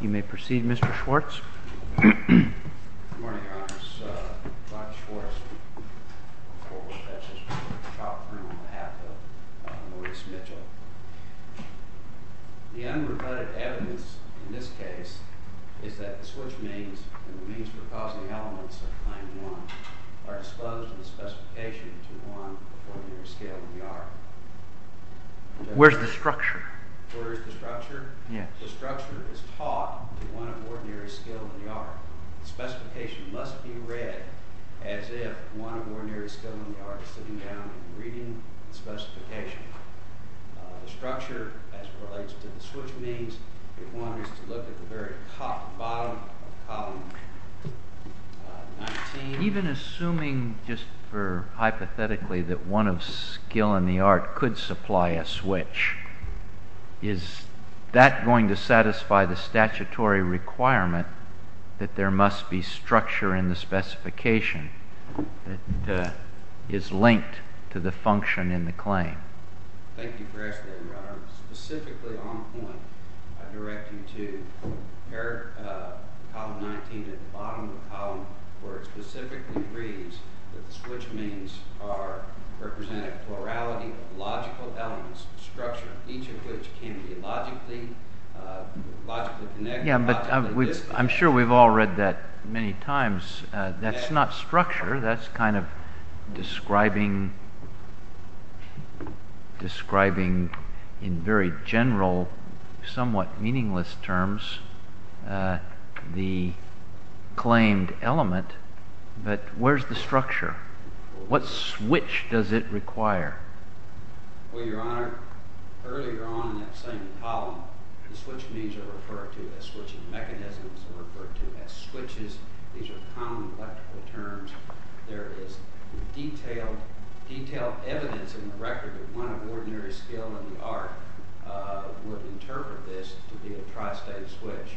You may proceed, Mr. Schwartz. Good morning, Your Honors. I'm Bob Schwartz, Corporal Specialist for the trial firm on behalf of Maurice Mitchell. The unreported evidence in this case is that the Schwartz means and the means for causing elements of Claim 1 are exposed in the specification to one of ordinary skill in the art. Where's the structure? Where's the structure? Yes. The structure is taught to one of ordinary skill in the art. The specification must be read as if one of ordinary skill in the art is sitting down and reading the specification. The structure, as it relates to the switch means, requires us to look at the very top and bottom of column 19. Even assuming, just hypothetically, that one of skill in the art could supply a switch, is that going to satisfy the statutory requirement that there must be structure in the specification that is linked to the function in the claim? Thank you for asking that, Your Honor. Specifically, on point, I direct you to the column 19 at the bottom of the column, where it specifically reads that the switch means are representing a plurality of logical elements, structure, each of which can be logically connected. Yeah, but I'm sure we've all read that many times. That's not structure. That's kind of describing, in very general, somewhat meaningless terms, the claimed element. But where's the structure? What switch does it require? Well, Your Honor, earlier on in that same column, the switch means are referred to as switching mechanisms, are referred to as switches. These are common electrical terms. There is detailed evidence in the record that one of ordinary skill in the art would interpret this to be a tristate switch.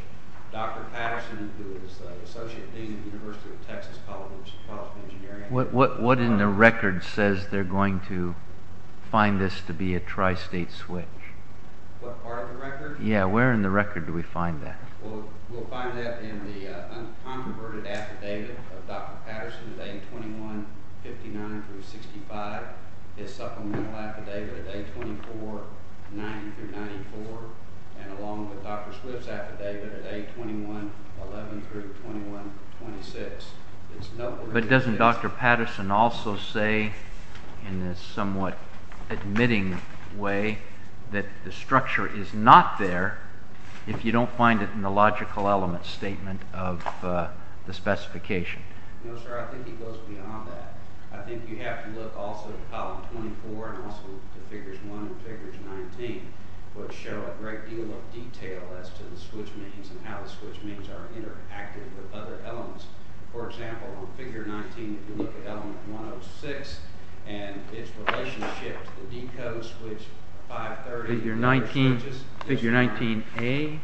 Dr. Patterson, who is the Associate Dean of the University of Texas College of Engineering, What in the record says they're going to find this to be a tristate switch? What part of the record? Yeah, where in the record do we find that? Well, we'll find that in the uncontroverted affidavit of Dr. Patterson, A2159-65, his supplemental affidavit A2490-94, and along with Dr. Swift's affidavit A2111-2126. But doesn't Dr. Patterson also say, in a somewhat admitting way, that the structure is not there if you don't find it in the logical element statement of the specification? No, sir, I think he goes beyond that. I think you have to look also to column 24 and also to figures 1 and figures 19, which show a great deal of detail as to the switch means and how the switch means are interacted with other elements. For example, on figure 19, if you look at element 106 and its relationship to the decode switch 530... Figure 19A?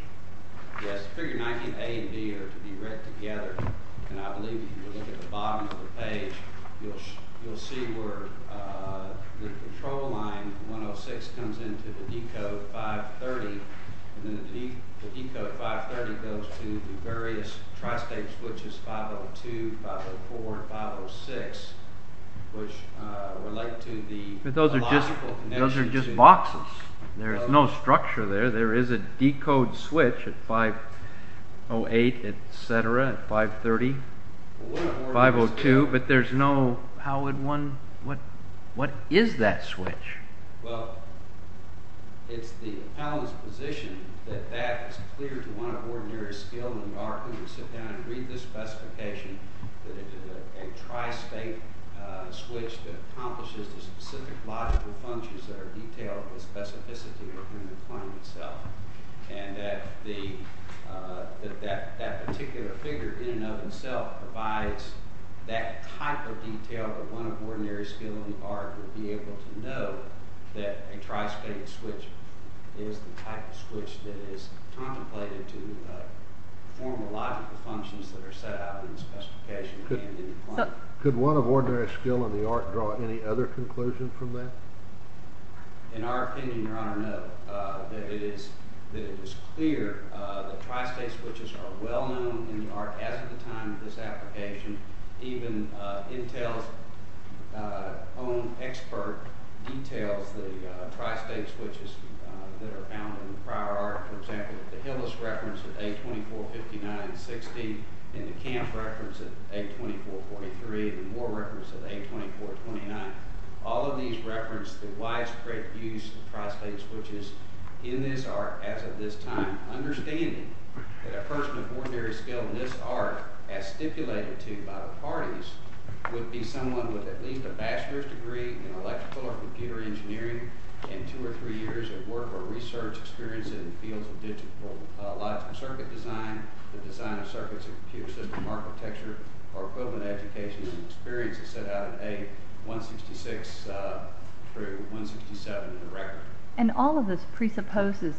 Yes, figures 19A and 19B are to be read together, and I believe if you look at the bottom of the page, you'll see where the control line 106 comes into the decode 530, and then the decode 530 goes to the various tristate switches 502, 504, and 506, which relate to the logical connection to... There's no structure there. There is a decode switch at 508, etc., at 530, 502, but there's no... What is that switch? Well, it's the appellant's position that that is clear to one of ordinary skill in the art who would sit down and read the specification that it is a tristate switch that accomplishes the specific logical functions that are detailed with specificity within the claim itself, and that that particular figure in and of itself provides that type of detail that one of ordinary skill in the art would be able to know that a tristate switch is the type of switch that is contemplated to perform the logical functions that are set out in the specification and in the claim. Could one of ordinary skill in the art draw any other conclusion from that? In our opinion, Your Honor, no, that it is clear that tristate switches are well known in the art as of the time of this application. Even Intel's own expert details the tristate switches that are found in the prior art. For example, the Hillis reference at 824, 59, 60, and the Camp reference at 824, 43, and the Moore reference at 824, 29, all of these reference the widespread use of tristate switches in this art as of this time. And all of this presupposes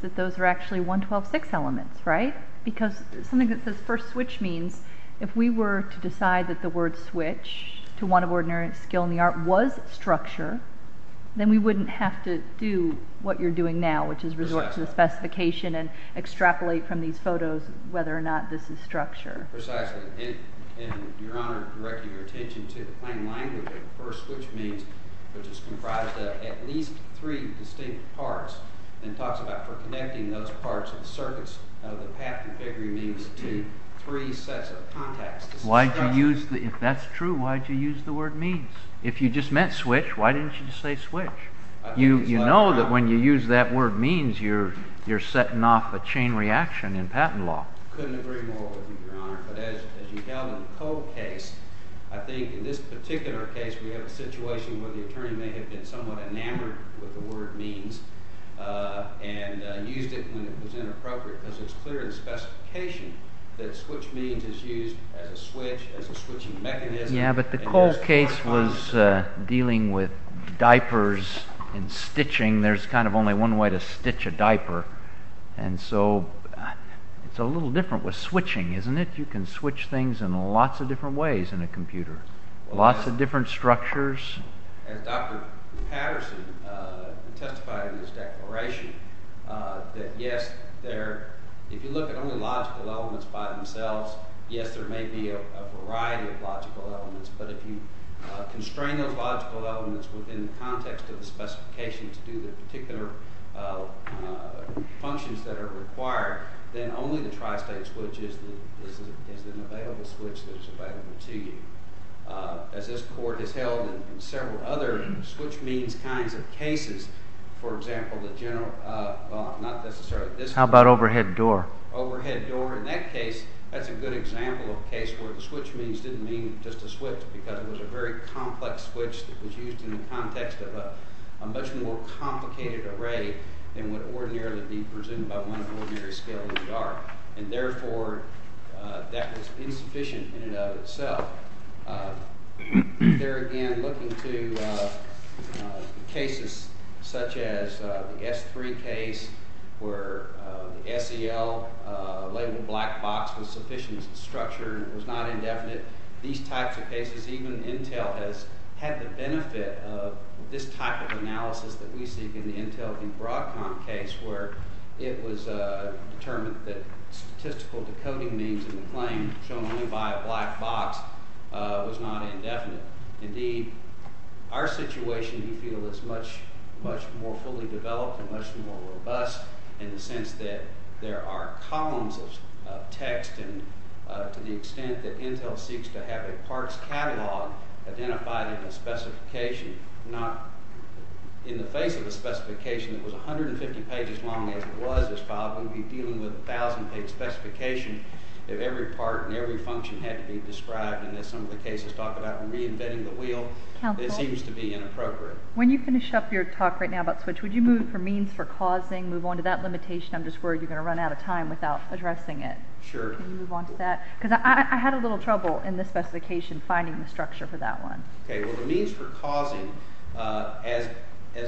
that those are actually 112-6 elements, right? Because something that says first switch means if we were to decide that the word switch to one of ordinary skill in the art was structure, then we wouldn't have to do what you're doing now, which is resort to the specification and extrapolate from these photos whether or not this is structure. Precisely. And, Your Honor, directing your attention to the plain language of first switch means, which is comprised of at least three distinct parts, and talks about for connecting those parts and circuits of the path configuring means to three sets of contacts. That's true. Why did you use the word means? If you just meant switch, why didn't you just say switch? You know that when you use that word means, you're setting off a chain reaction in patent law. I couldn't agree more with you, Your Honor, but as you held in the Cole case, I think in this particular case we have a situation where the attorney may have been somewhat enamored with the word means and used it when it was inappropriate because it's clear in the specification that switch means is used as a switch, as a switching mechanism. Yeah, but the Cole case was dealing with diapers and stitching. There's kind of only one way to stitch a diaper, and so it's a little different with switching, isn't it? You can switch things in lots of different ways in a computer, lots of different structures. As Dr. Patterson testified in his declaration, that yes, if you look at only logical elements by themselves, yes, there may be a variety of logical elements, but if you constrain those logical elements within the context of the specification to do the particular functions that are required, then only the tri-state switch is an available switch that is available to you. As this Court has held in several other switch means kinds of cases, for example, the general, well, not necessarily this one. How about overhead door? In that case, that's a good example of a case where the switch means didn't mean just a switch because it was a very complex switch that was used in the context of a much more complicated array than would ordinarily be presumed by one of the ordinary scales of the art, and therefore that was insufficient in and of itself. There again, looking to cases such as the S3 case where the SEL labeled black box was sufficient structure and it was not indefinite, these types of cases, even Intel has had the benefit of this type of analysis that we seek in the Intel and Broadcom case where it was determined that statistical decoding means in the claim shown only by a black box. It was not indefinite. Indeed, our situation, we feel, is much, much more fully developed and much more robust in the sense that there are columns of text and to the extent that Intel seeks to have a parts catalog identified in a specification, not in the face of a specification that was 150 pages long as it was this file. We'd be dealing with a thousand page specification if every part and every function had to be described and as some of the cases talk about reinventing the wheel, it seems to be inappropriate. When you finish up your talk right now about switch, would you move for means for causing, move on to that limitation? I'm just worried you're going to run out of time without addressing it. Sure. Can you move on to that? Because I had a little trouble in the specification finding the structure for that one. Okay, well the means for causing, as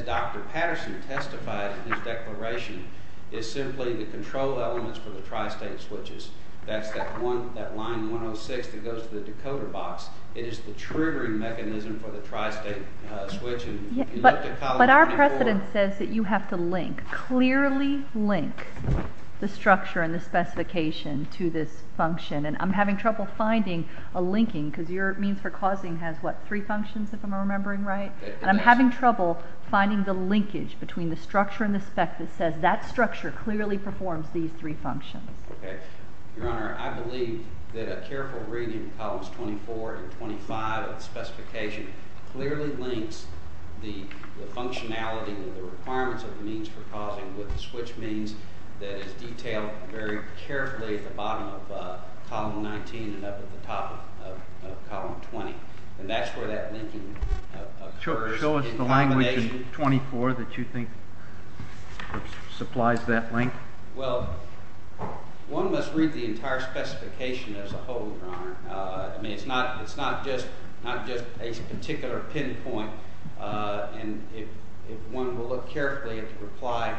Dr. Patterson testified in his declaration, is simply the control elements for the tri-state switches. That's that line 106 that goes to the decoder box. It is the triggering mechanism for the tri-state switch. But our precedent says that you have to link, clearly link, the structure and the specification to this function and I'm having trouble finding a linking because your means for causing has what, three functions if I'm remembering right? And I'm having trouble finding the linkage between the structure and the spec that says that structure clearly performs these three functions. Your Honor, I believe that a careful reading of columns 24 and 25 of the specification clearly links the functionality and the requirements of the means for causing with the switch means that is detailed very carefully at the bottom of column 19 and up at the top of column 20. And that's where that linking occurs in combination. Show us the language in 24 that you think supplies that link. Well, one must read the entire specification as a whole, Your Honor. I mean, it's not just a particular pinpoint and if one will look carefully at the reply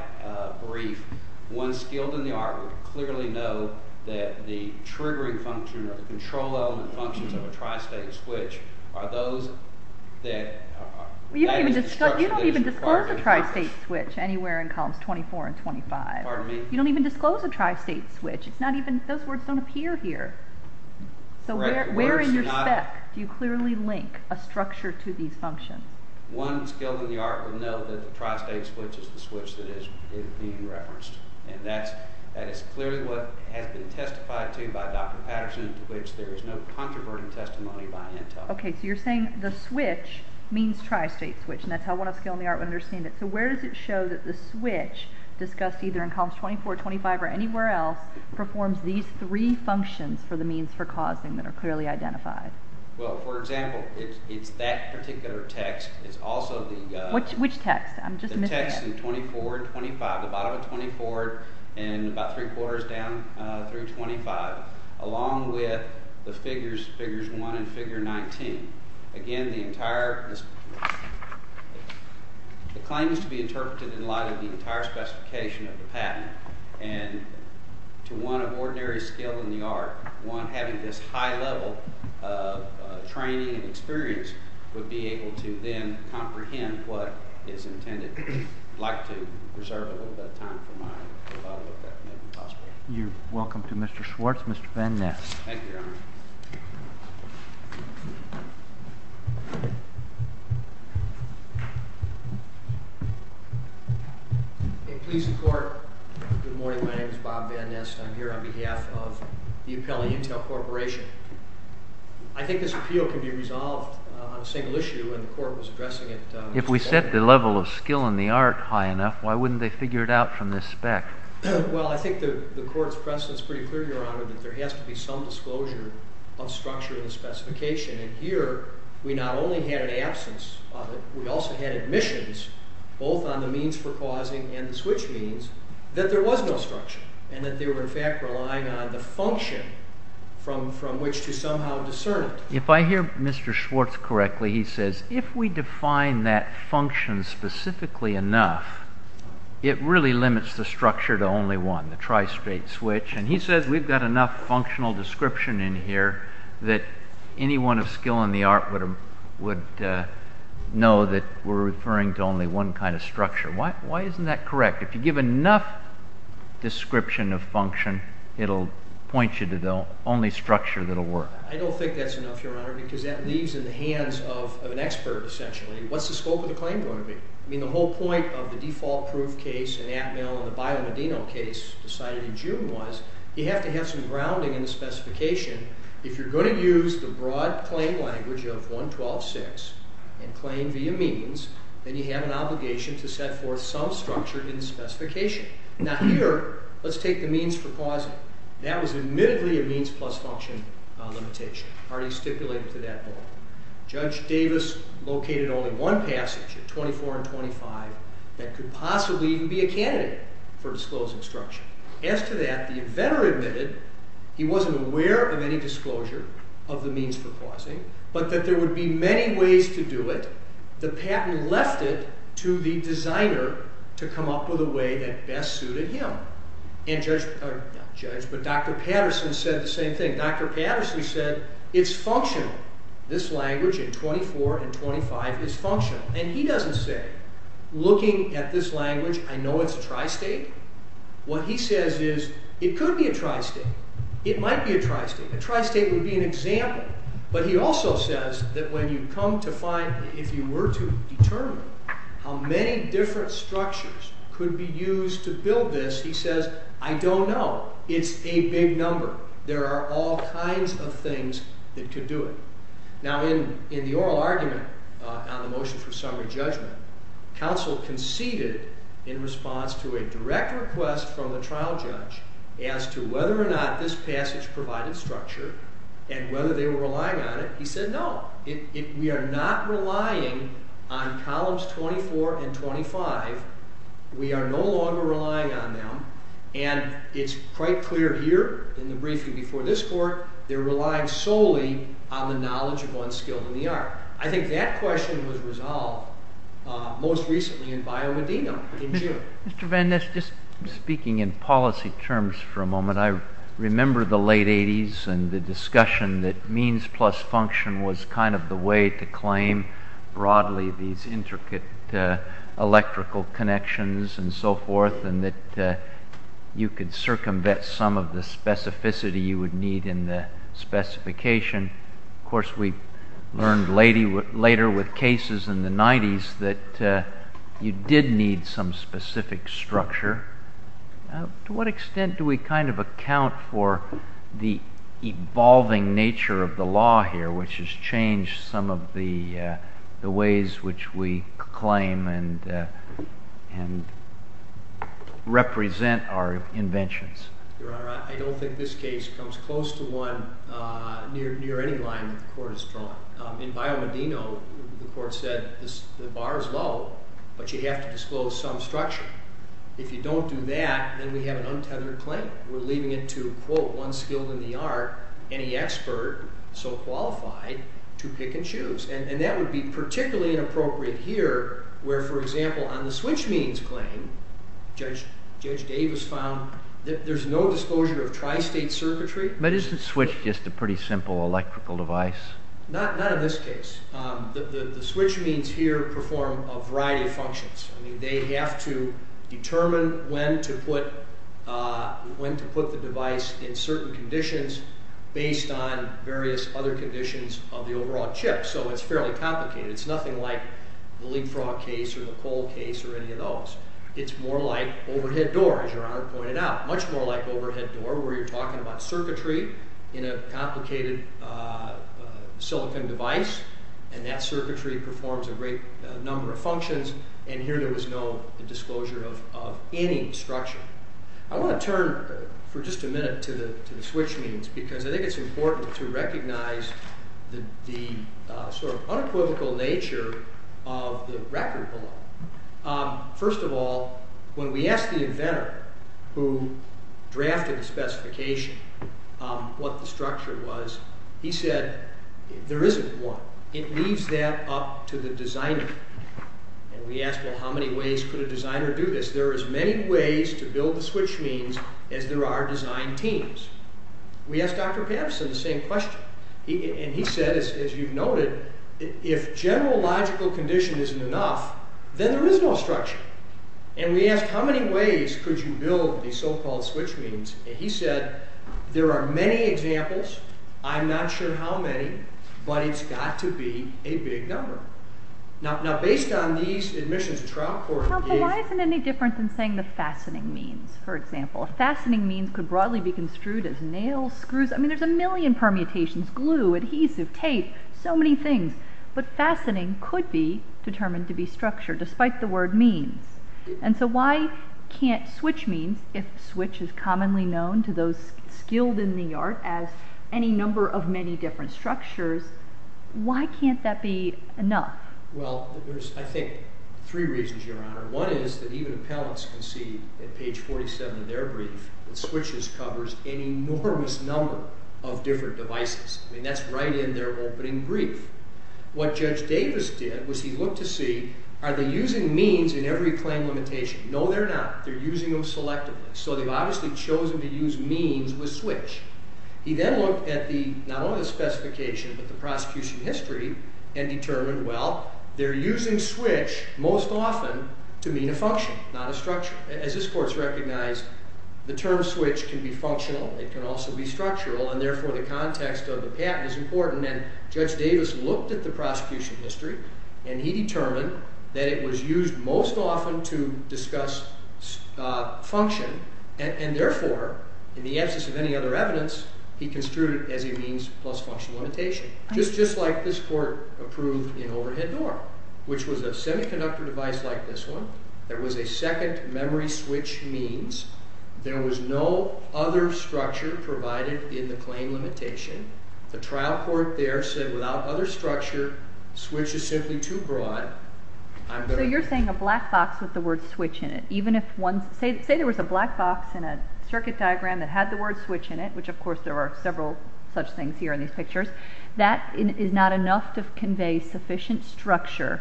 brief, one skilled in the art would clearly know that the triggering function or the control element functions of a tri-state switch are those that… You don't even disclose a tri-state switch anywhere in columns 24 and 25. Pardon me? You don't even disclose a tri-state switch. Those words don't appear here. So where in your spec do you clearly link a structure to these functions? One skilled in the art would know that the tri-state switch is the switch that is being referenced. And that is clearly what has been testified to by Dr. Patterson to which there is no controverting testimony by Intel. Okay, so you're saying the switch means tri-state switch and that's how one of skilled in the art would understand it. So where does it show that the switch discussed either in columns 24, 25, or anywhere else performs these three functions for the means for causing that are clearly identified? Well, for example, it's that particular text. It's also the… Which text? I'm just missing it. The text in 24 and 25, the bottom of 24 and about three-quarters down through 25, along with the figures, figures 1 and figure 19. Again, the entire… The claim is to be interpreted in light of the entire specification of the patent. And to one of ordinary skilled in the art, one having this high level of training and experience would be able to then comprehend what is intended. I'd like to reserve a little bit of time for my… You're welcome to Mr. Schwartz. Thank you, Your Honor. Please, the court. Good morning. My name is Bob Van Nest. I'm here on behalf of the Appellate Intel Corporation. I think this appeal can be resolved on a single issue and the court was addressing it… If we set the level of skill in the art high enough, why wouldn't they figure it out from this spec? Well, I think the court's precedent is pretty clear, Your Honor, that there has to be some disclosure of structure in the specification. And here, we not only had an absence of it, we also had admissions, both on the means for causing and the switch means, that there was no structure. And that they were, in fact, relying on the function from which to somehow discern it. If I hear Mr. Schwartz correctly, he says if we define that function specifically enough, it really limits the structure to only one, the tri-state switch. And he says we've got enough functional description in here that anyone of skill in the art would know that we're referring to only one kind of structure. Why isn't that correct? If you give enough description of function, it'll point you to the only structure that'll work. I don't think that's enough, Your Honor, because that leaves in the hands of an expert, essentially. What's the scope of the claim going to be? I mean, the whole point of the default proof case in Atmel and the Bio Medino case decided in June was you have to have some grounding in the specification. If you're going to use the broad claim language of 112.6 and claim via means, then you have an obligation to set forth some structure in the specification. Now, here, let's take the means for causing. That was admittedly a means plus function limitation already stipulated to that law. Judge Davis located only one passage, 24 and 25, that could possibly even be a candidate for disclosed instruction. As to that, the inventor admitted he wasn't aware of any disclosure of the means for causing, but that there would be many ways to do it. The patent left it to the designer to come up with a way that best suited him. Dr. Patterson said the same thing. Dr. Patterson said it's functional. This language in 24 and 25 is functional. And he doesn't say, looking at this language, I know it's a tristate. What he says is it could be a tristate. It might be a tristate. A tristate would be an example. But he also says that when you come to find, if you were to determine how many different structures could be used to build this, he says, I don't know. It's a big number. There are all kinds of things that could do it. Now, in the oral argument on the motion for summary judgment, counsel conceded in response to a direct request from the trial judge as to whether or not this passage provided structure and whether they were relying on it. He said no. We are not relying on columns 24 and 25. We are no longer relying on them. And it's quite clear here in the briefing before this court, they're relying solely on the knowledge of unskilled in the art. I think that question was resolved most recently in Bio Medina in June. Mr. Van Ness, just speaking in policy terms for a moment, I remember the late 80s and the discussion that means plus function was kind of the way to claim broadly these intricate electrical connections and so forth, and that you could circumvent some of the specificity you would need in the specification. Of course, we learned later with cases in the 90s that you did need some specific structure. To what extent do we kind of account for the evolving nature of the law here, which has changed some of the ways which we claim and represent our inventions? Your Honor, I don't think this case comes close to one near any line that the court has drawn. In Bio Medina, the court said the bar is low, but you have to disclose some structure. If you don't do that, then we have an untethered claim. We're leaving it to, quote, unskilled in the art, any expert so qualified to pick and choose. And that would be particularly inappropriate here where, for example, on the switch means claim, Judge Davis found that there's no disclosure of tristate circuitry. But isn't switch just a pretty simple electrical device? Not in this case. The switch means here perform a variety of functions. I mean, they have to determine when to put the device in certain conditions based on various other conditions of the overall chip. So it's fairly complicated. It's nothing like the leapfrog case or the cold case or any of those. It's more like overhead door, as Your Honor pointed out, much more like overhead door where you're talking about circuitry in a complicated silicon device. And that circuitry performs a great number of functions. And here there was no disclosure of any structure. I want to turn for just a minute to the switch means because I think it's important to recognize the sort of unequivocal nature of the record below. First of all, when we asked the inventor who drafted the specification what the structure was, he said there isn't one. It leaves that up to the designer. And we asked, well, how many ways could a designer do this? There are as many ways to build the switch means as there are design teams. We asked Dr. Patterson the same question. And he said, as you've noted, if general logical condition isn't enough, then there is no structure. And we asked, how many ways could you build the so-called switch means? He said, there are many examples. I'm not sure how many. But it's got to be a big number. Now, based on these admissions trial court reviews. Why isn't it any different than saying the fastening means, for example? Fastening means could broadly be construed as nails, screws. I mean, there's a million permutations, glue, adhesive, tape, so many things. But fastening could be determined to be structure despite the word means. And so why can't switch means, if switch is commonly known to those skilled in the art as any number of many different structures, why can't that be enough? Well, there's, I think, three reasons, Your Honor. One is that even appellants can see at page 47 of their brief that switches covers an enormous number of different devices. I mean, that's right in their opening brief. What Judge Davis did was he looked to see, are they using means in every claim limitation? No, they're not. They're using them selectively. So they've obviously chosen to use means with switch. He then looked at the, not only the specification, but the prosecution history, and determined, well, they're using switch most often to mean a function, not a structure. As this court's recognized, the term switch can be functional. It can also be structural. And therefore, the context of the patent is important. And Judge Davis looked at the prosecution history, and he determined that it was used most often to discuss function. And therefore, in the absence of any other evidence, he construed it as a means plus function limitation, just like this court approved in overhead norm, which was a semiconductor device like this one. There was a second memory switch means. There was no other structure provided in the claim limitation. The trial court there said without other structure, switch is simply too broad. So you're saying a black box with the word switch in it. Even if one, say there was a black box in a circuit diagram that had the word switch in it, which of course there are several such things here in these pictures, that is not enough to convey sufficient structure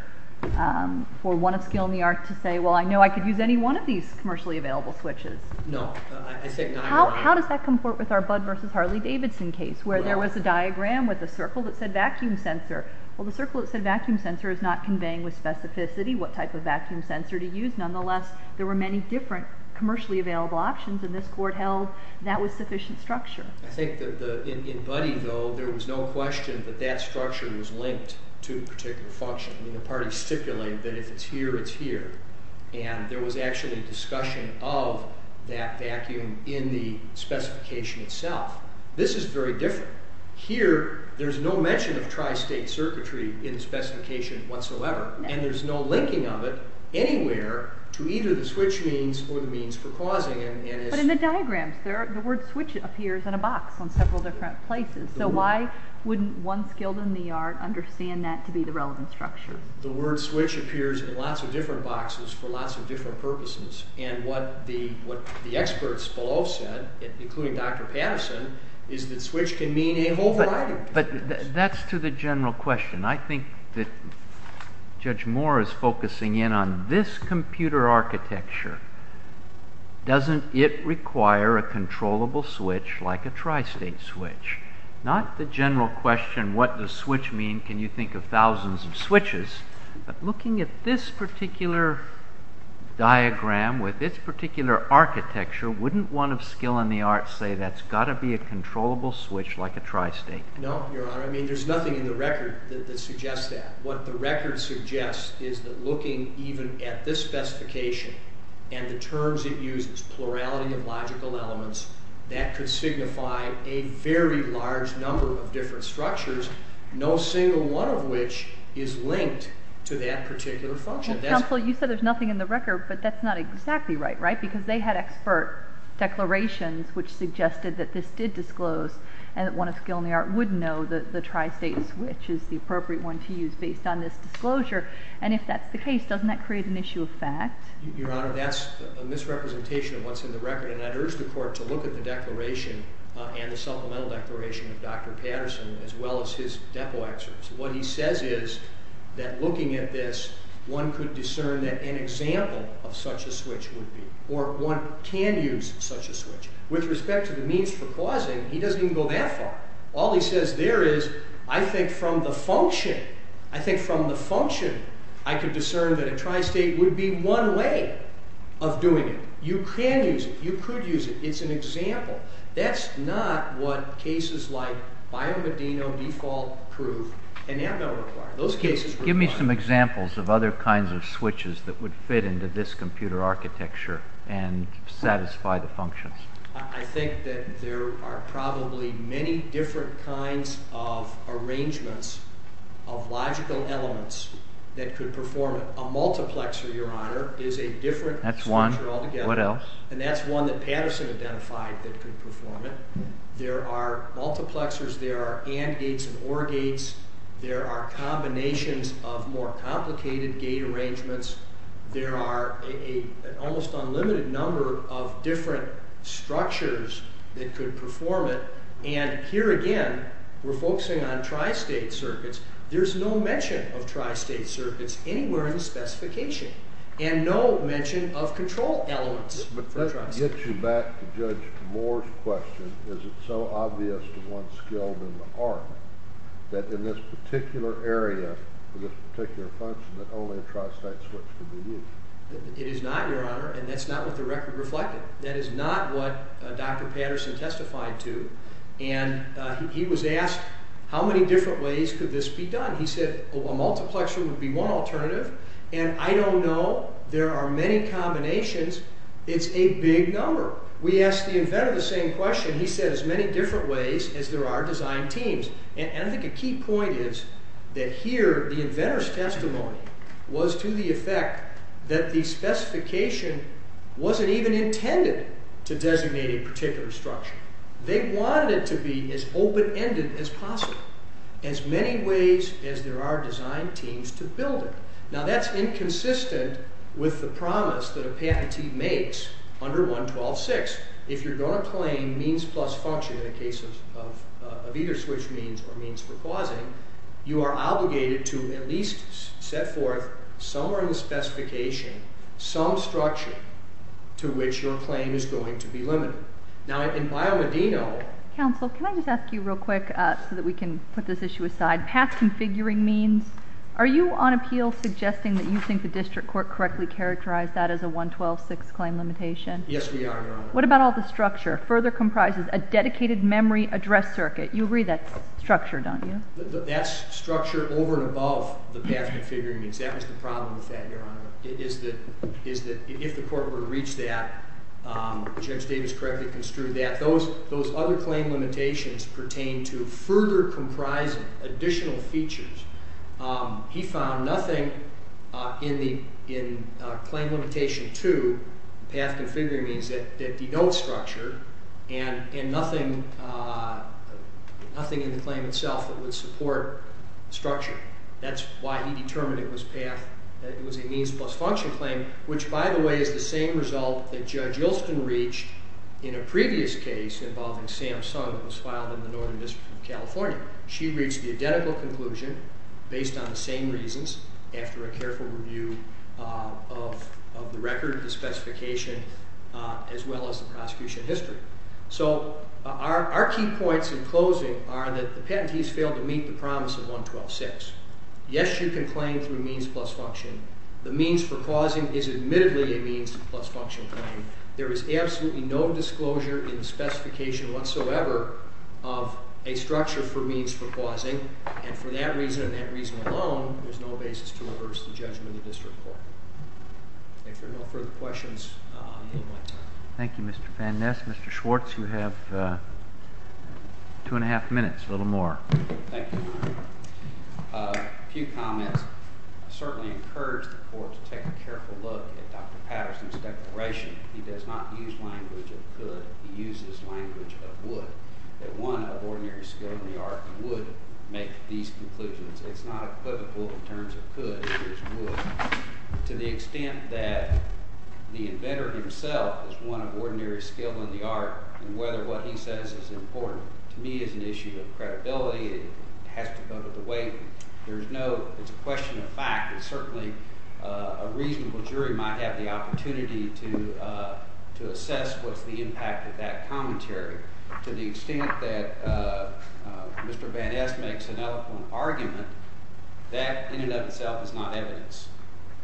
for one of skill in the art to say, well, I know I could use any one of these commercially available switches. No. How does that comport with our Budd versus Harley-Davidson case, where there was a diagram with a circle that said vacuum sensor? Well, the circle that said vacuum sensor is not conveying with specificity what type of vacuum sensor to use. Nonetheless, there were many different commercially available options, and this court held that was sufficient structure. I think that in Buddy, though, there was no question that that structure was linked to a particular function. I mean, the party stipulated that if it's here, it's here. And there was actually discussion of that vacuum in the specification itself. This is very different. Here, there's no mention of tri-state circuitry in the specification whatsoever, and there's no linking of it anywhere to either the switch means or the means for causing it. But in the diagrams, the word switch appears in a box on several different places. So why wouldn't one skilled in the art understand that to be the relevant structure? The word switch appears in lots of different boxes for lots of different purposes, and what the experts below said, including Dr. Patterson, is that switch can mean a whole variety of things. But that's to the general question. I think that Judge Moore is focusing in on this computer architecture. Doesn't it require a controllable switch like a tri-state switch? Not the general question, what does switch mean? Can you think of thousands of switches? But looking at this particular diagram with this particular architecture, wouldn't one of skill in the art say that's got to be a controllable switch like a tri-state? No, Your Honor. I mean, there's nothing in the record that suggests that. What the record suggests is that looking even at this specification and the terms it uses, plurality of logical elements, that could signify a very large number of different structures, no single one of which is linked to that particular function. Counsel, you said there's nothing in the record, but that's not exactly right, right? Because they had expert declarations which suggested that this did disclose and that one of skill in the art would know that the tri-state switch is the appropriate one to use based on this disclosure. And if that's the case, doesn't that create an issue of fact? Your Honor, that's a misrepresentation of what's in the record, and I'd urge the Court to look at the declaration and the supplemental declaration of Dr. Patterson as well as his depo excerpts. What he says is that looking at this, one could discern that an example of such a switch would be, or one can use such a switch. With respect to the means for causing, he doesn't even go that far. All he says there is, I think from the function, I could discern that a tri-state would be one way of doing it. You can use it. You could use it. It's an example. That's not what cases like Biomedino default prove and now don't require. Those cases require. Give me some examples of other kinds of switches that would fit into this computer architecture and satisfy the functions. I think that there are probably many different kinds of arrangements of logical elements that could perform it. A multiplexer, Your Honor, is a different structure altogether. That's one. What else? And that's one that Patterson identified that could perform it. There are multiplexers. There are AND gates and OR gates. There are combinations of more complicated gate arrangements. There are an almost unlimited number of different structures that could perform it. And here again, we're focusing on tri-state circuits. There's no mention of tri-state circuits anywhere in the specification and no mention of control elements for tri-state. But that gets you back to Judge Moore's question. Is it so obvious to one skilled in the art that in this particular area, for this particular function, that only a tri-state switch could be used? It is not, Your Honor, and that's not what the record reflected. That is not what Dr. Patterson testified to. And he was asked how many different ways could this be done. He said a multiplexer would be one alternative. And I don't know. There are many combinations. It's a big number. We asked the inventor the same question. He said as many different ways as there are design teams. And I think a key point is that here the inventor's testimony was to the effect that the specification wasn't even intended to designate a particular structure. They wanted it to be as open-ended as possible. As many ways as there are design teams to build it. Now that's inconsistent with the promise that a patentee makes under 112.6. If you're going to claim means plus function in the case of either switch means or means for causing, you are obligated to at least set forth somewhere in the specification some structure to which your claim is going to be limited. Now in Biomedino... Counsel, can I just ask you real quick so that we can put this issue aside? Path configuring means, are you on appeal suggesting that you think the district court correctly characterized that as a 112.6 claim limitation? Yes, we are, Your Honor. What about all the structure? Further comprises a dedicated memory address circuit. You agree that's structure, don't you? That's structure over and above the path configuring means. That was the problem with that, Your Honor, is that if the court were to reach that, Judge Davis correctly construed that. Those other claim limitations pertain to further comprising additional features. He found nothing in claim limitation 2, path configuring means, that denotes structure and nothing in the claim itself that would support structure. That's why he determined it was a means plus function claim, which, by the way, is the same result that Judge Ilston reached in a previous case involving Sam Sung that was filed in the Northern District of California. She reached the identical conclusion based on the same reasons after a careful review of the record, the specification, as well as the prosecution history. So our key points in closing are that the patentees failed to meet the promise of 112.6. Yes, you can claim through means plus function. The means for causing is admittedly a means plus function claim. There is absolutely no disclosure in the specification whatsoever of a structure for means for causing, and for that reason and that reason alone, there's no basis to reverse the judgment of the district court. If there are no further questions, I will end my time. Thank you, Mr. Van Ness. Mr. Schwartz, you have two and a half minutes, a little more. Thank you, Your Honor. A few comments. I certainly encourage the court to take a careful look at Dr. Patterson's declaration. He does not use language of could. He uses language of would. That one of ordinary skill in the art would make these conclusions. It's not equivocal in terms of could. It is would. To the extent that the inventor himself is one of ordinary skill in the art, and whether what he says is important to me is an issue of credibility. It has to go with the way. There's no question of fact. It's certainly a reasonable jury might have the opportunity to assess what's the impact of that commentary. To the extent that Mr. Van Ness makes an eloquent argument, that in and of itself is not evidence.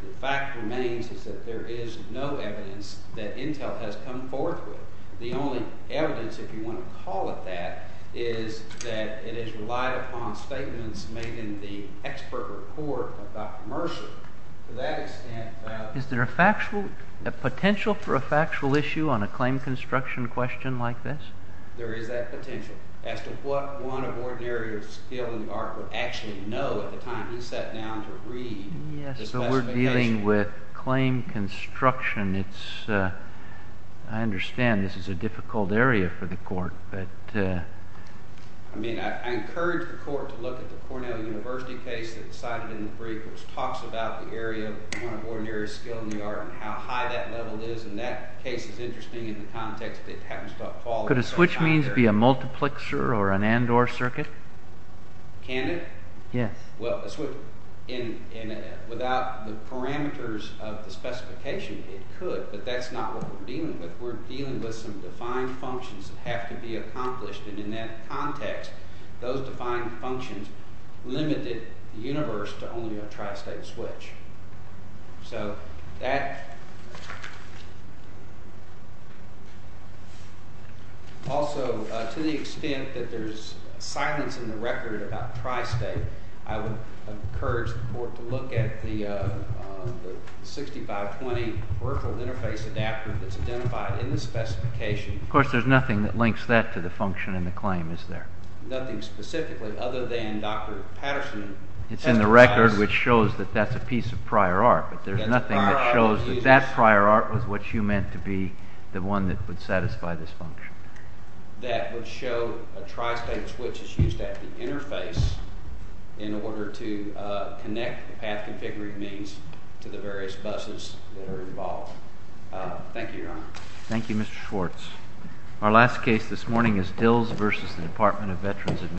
The fact remains is that there is no evidence that Intel has come forth with. The only evidence, if you want to call it that, is that it is relied upon statements made in the expert report of Dr. Mercer. Is there a potential for a factual issue on a claim construction question like this? There is that potential. As to what one of ordinary skill in the art would actually know at the time he sat down to read the specification. Yes, but we're dealing with claim construction. I understand this is a difficult area for the court. I encourage the court to look at the Cornell University case that was cited in the brief, which talks about the area of one of ordinary skill in the art and how high that level is. That case is interesting in the context that it happens to fall into. Could a switch means be a multiplexer or an and-or circuit? Can it? Yes. Without the parameters of the specification, it could, but that's not what we're dealing with. We're dealing with some defined functions that have to be accomplished, and in that context, those defined functions limited the universe to only a tri-state switch. Also, to the extent that there's silence in the record about tri-state, I would encourage the court to look at the 6520 virtual interface adapter that's identified in the specification. Of course, there's nothing that links that to the function in the claim, is there? Nothing specifically other than Dr. Patterson. It's in the record, which shows that that's a piece of prior art, but there's nothing that shows that that prior art was what you meant to be the one that would satisfy this function. That would show a tri-state switch is used at the interface in order to connect the path configuring means to the various buses that are involved. Thank you, Your Honor. Thank you, Mr. Schwartz. Our last case this morning is Dills v. Department of Veterans Administration.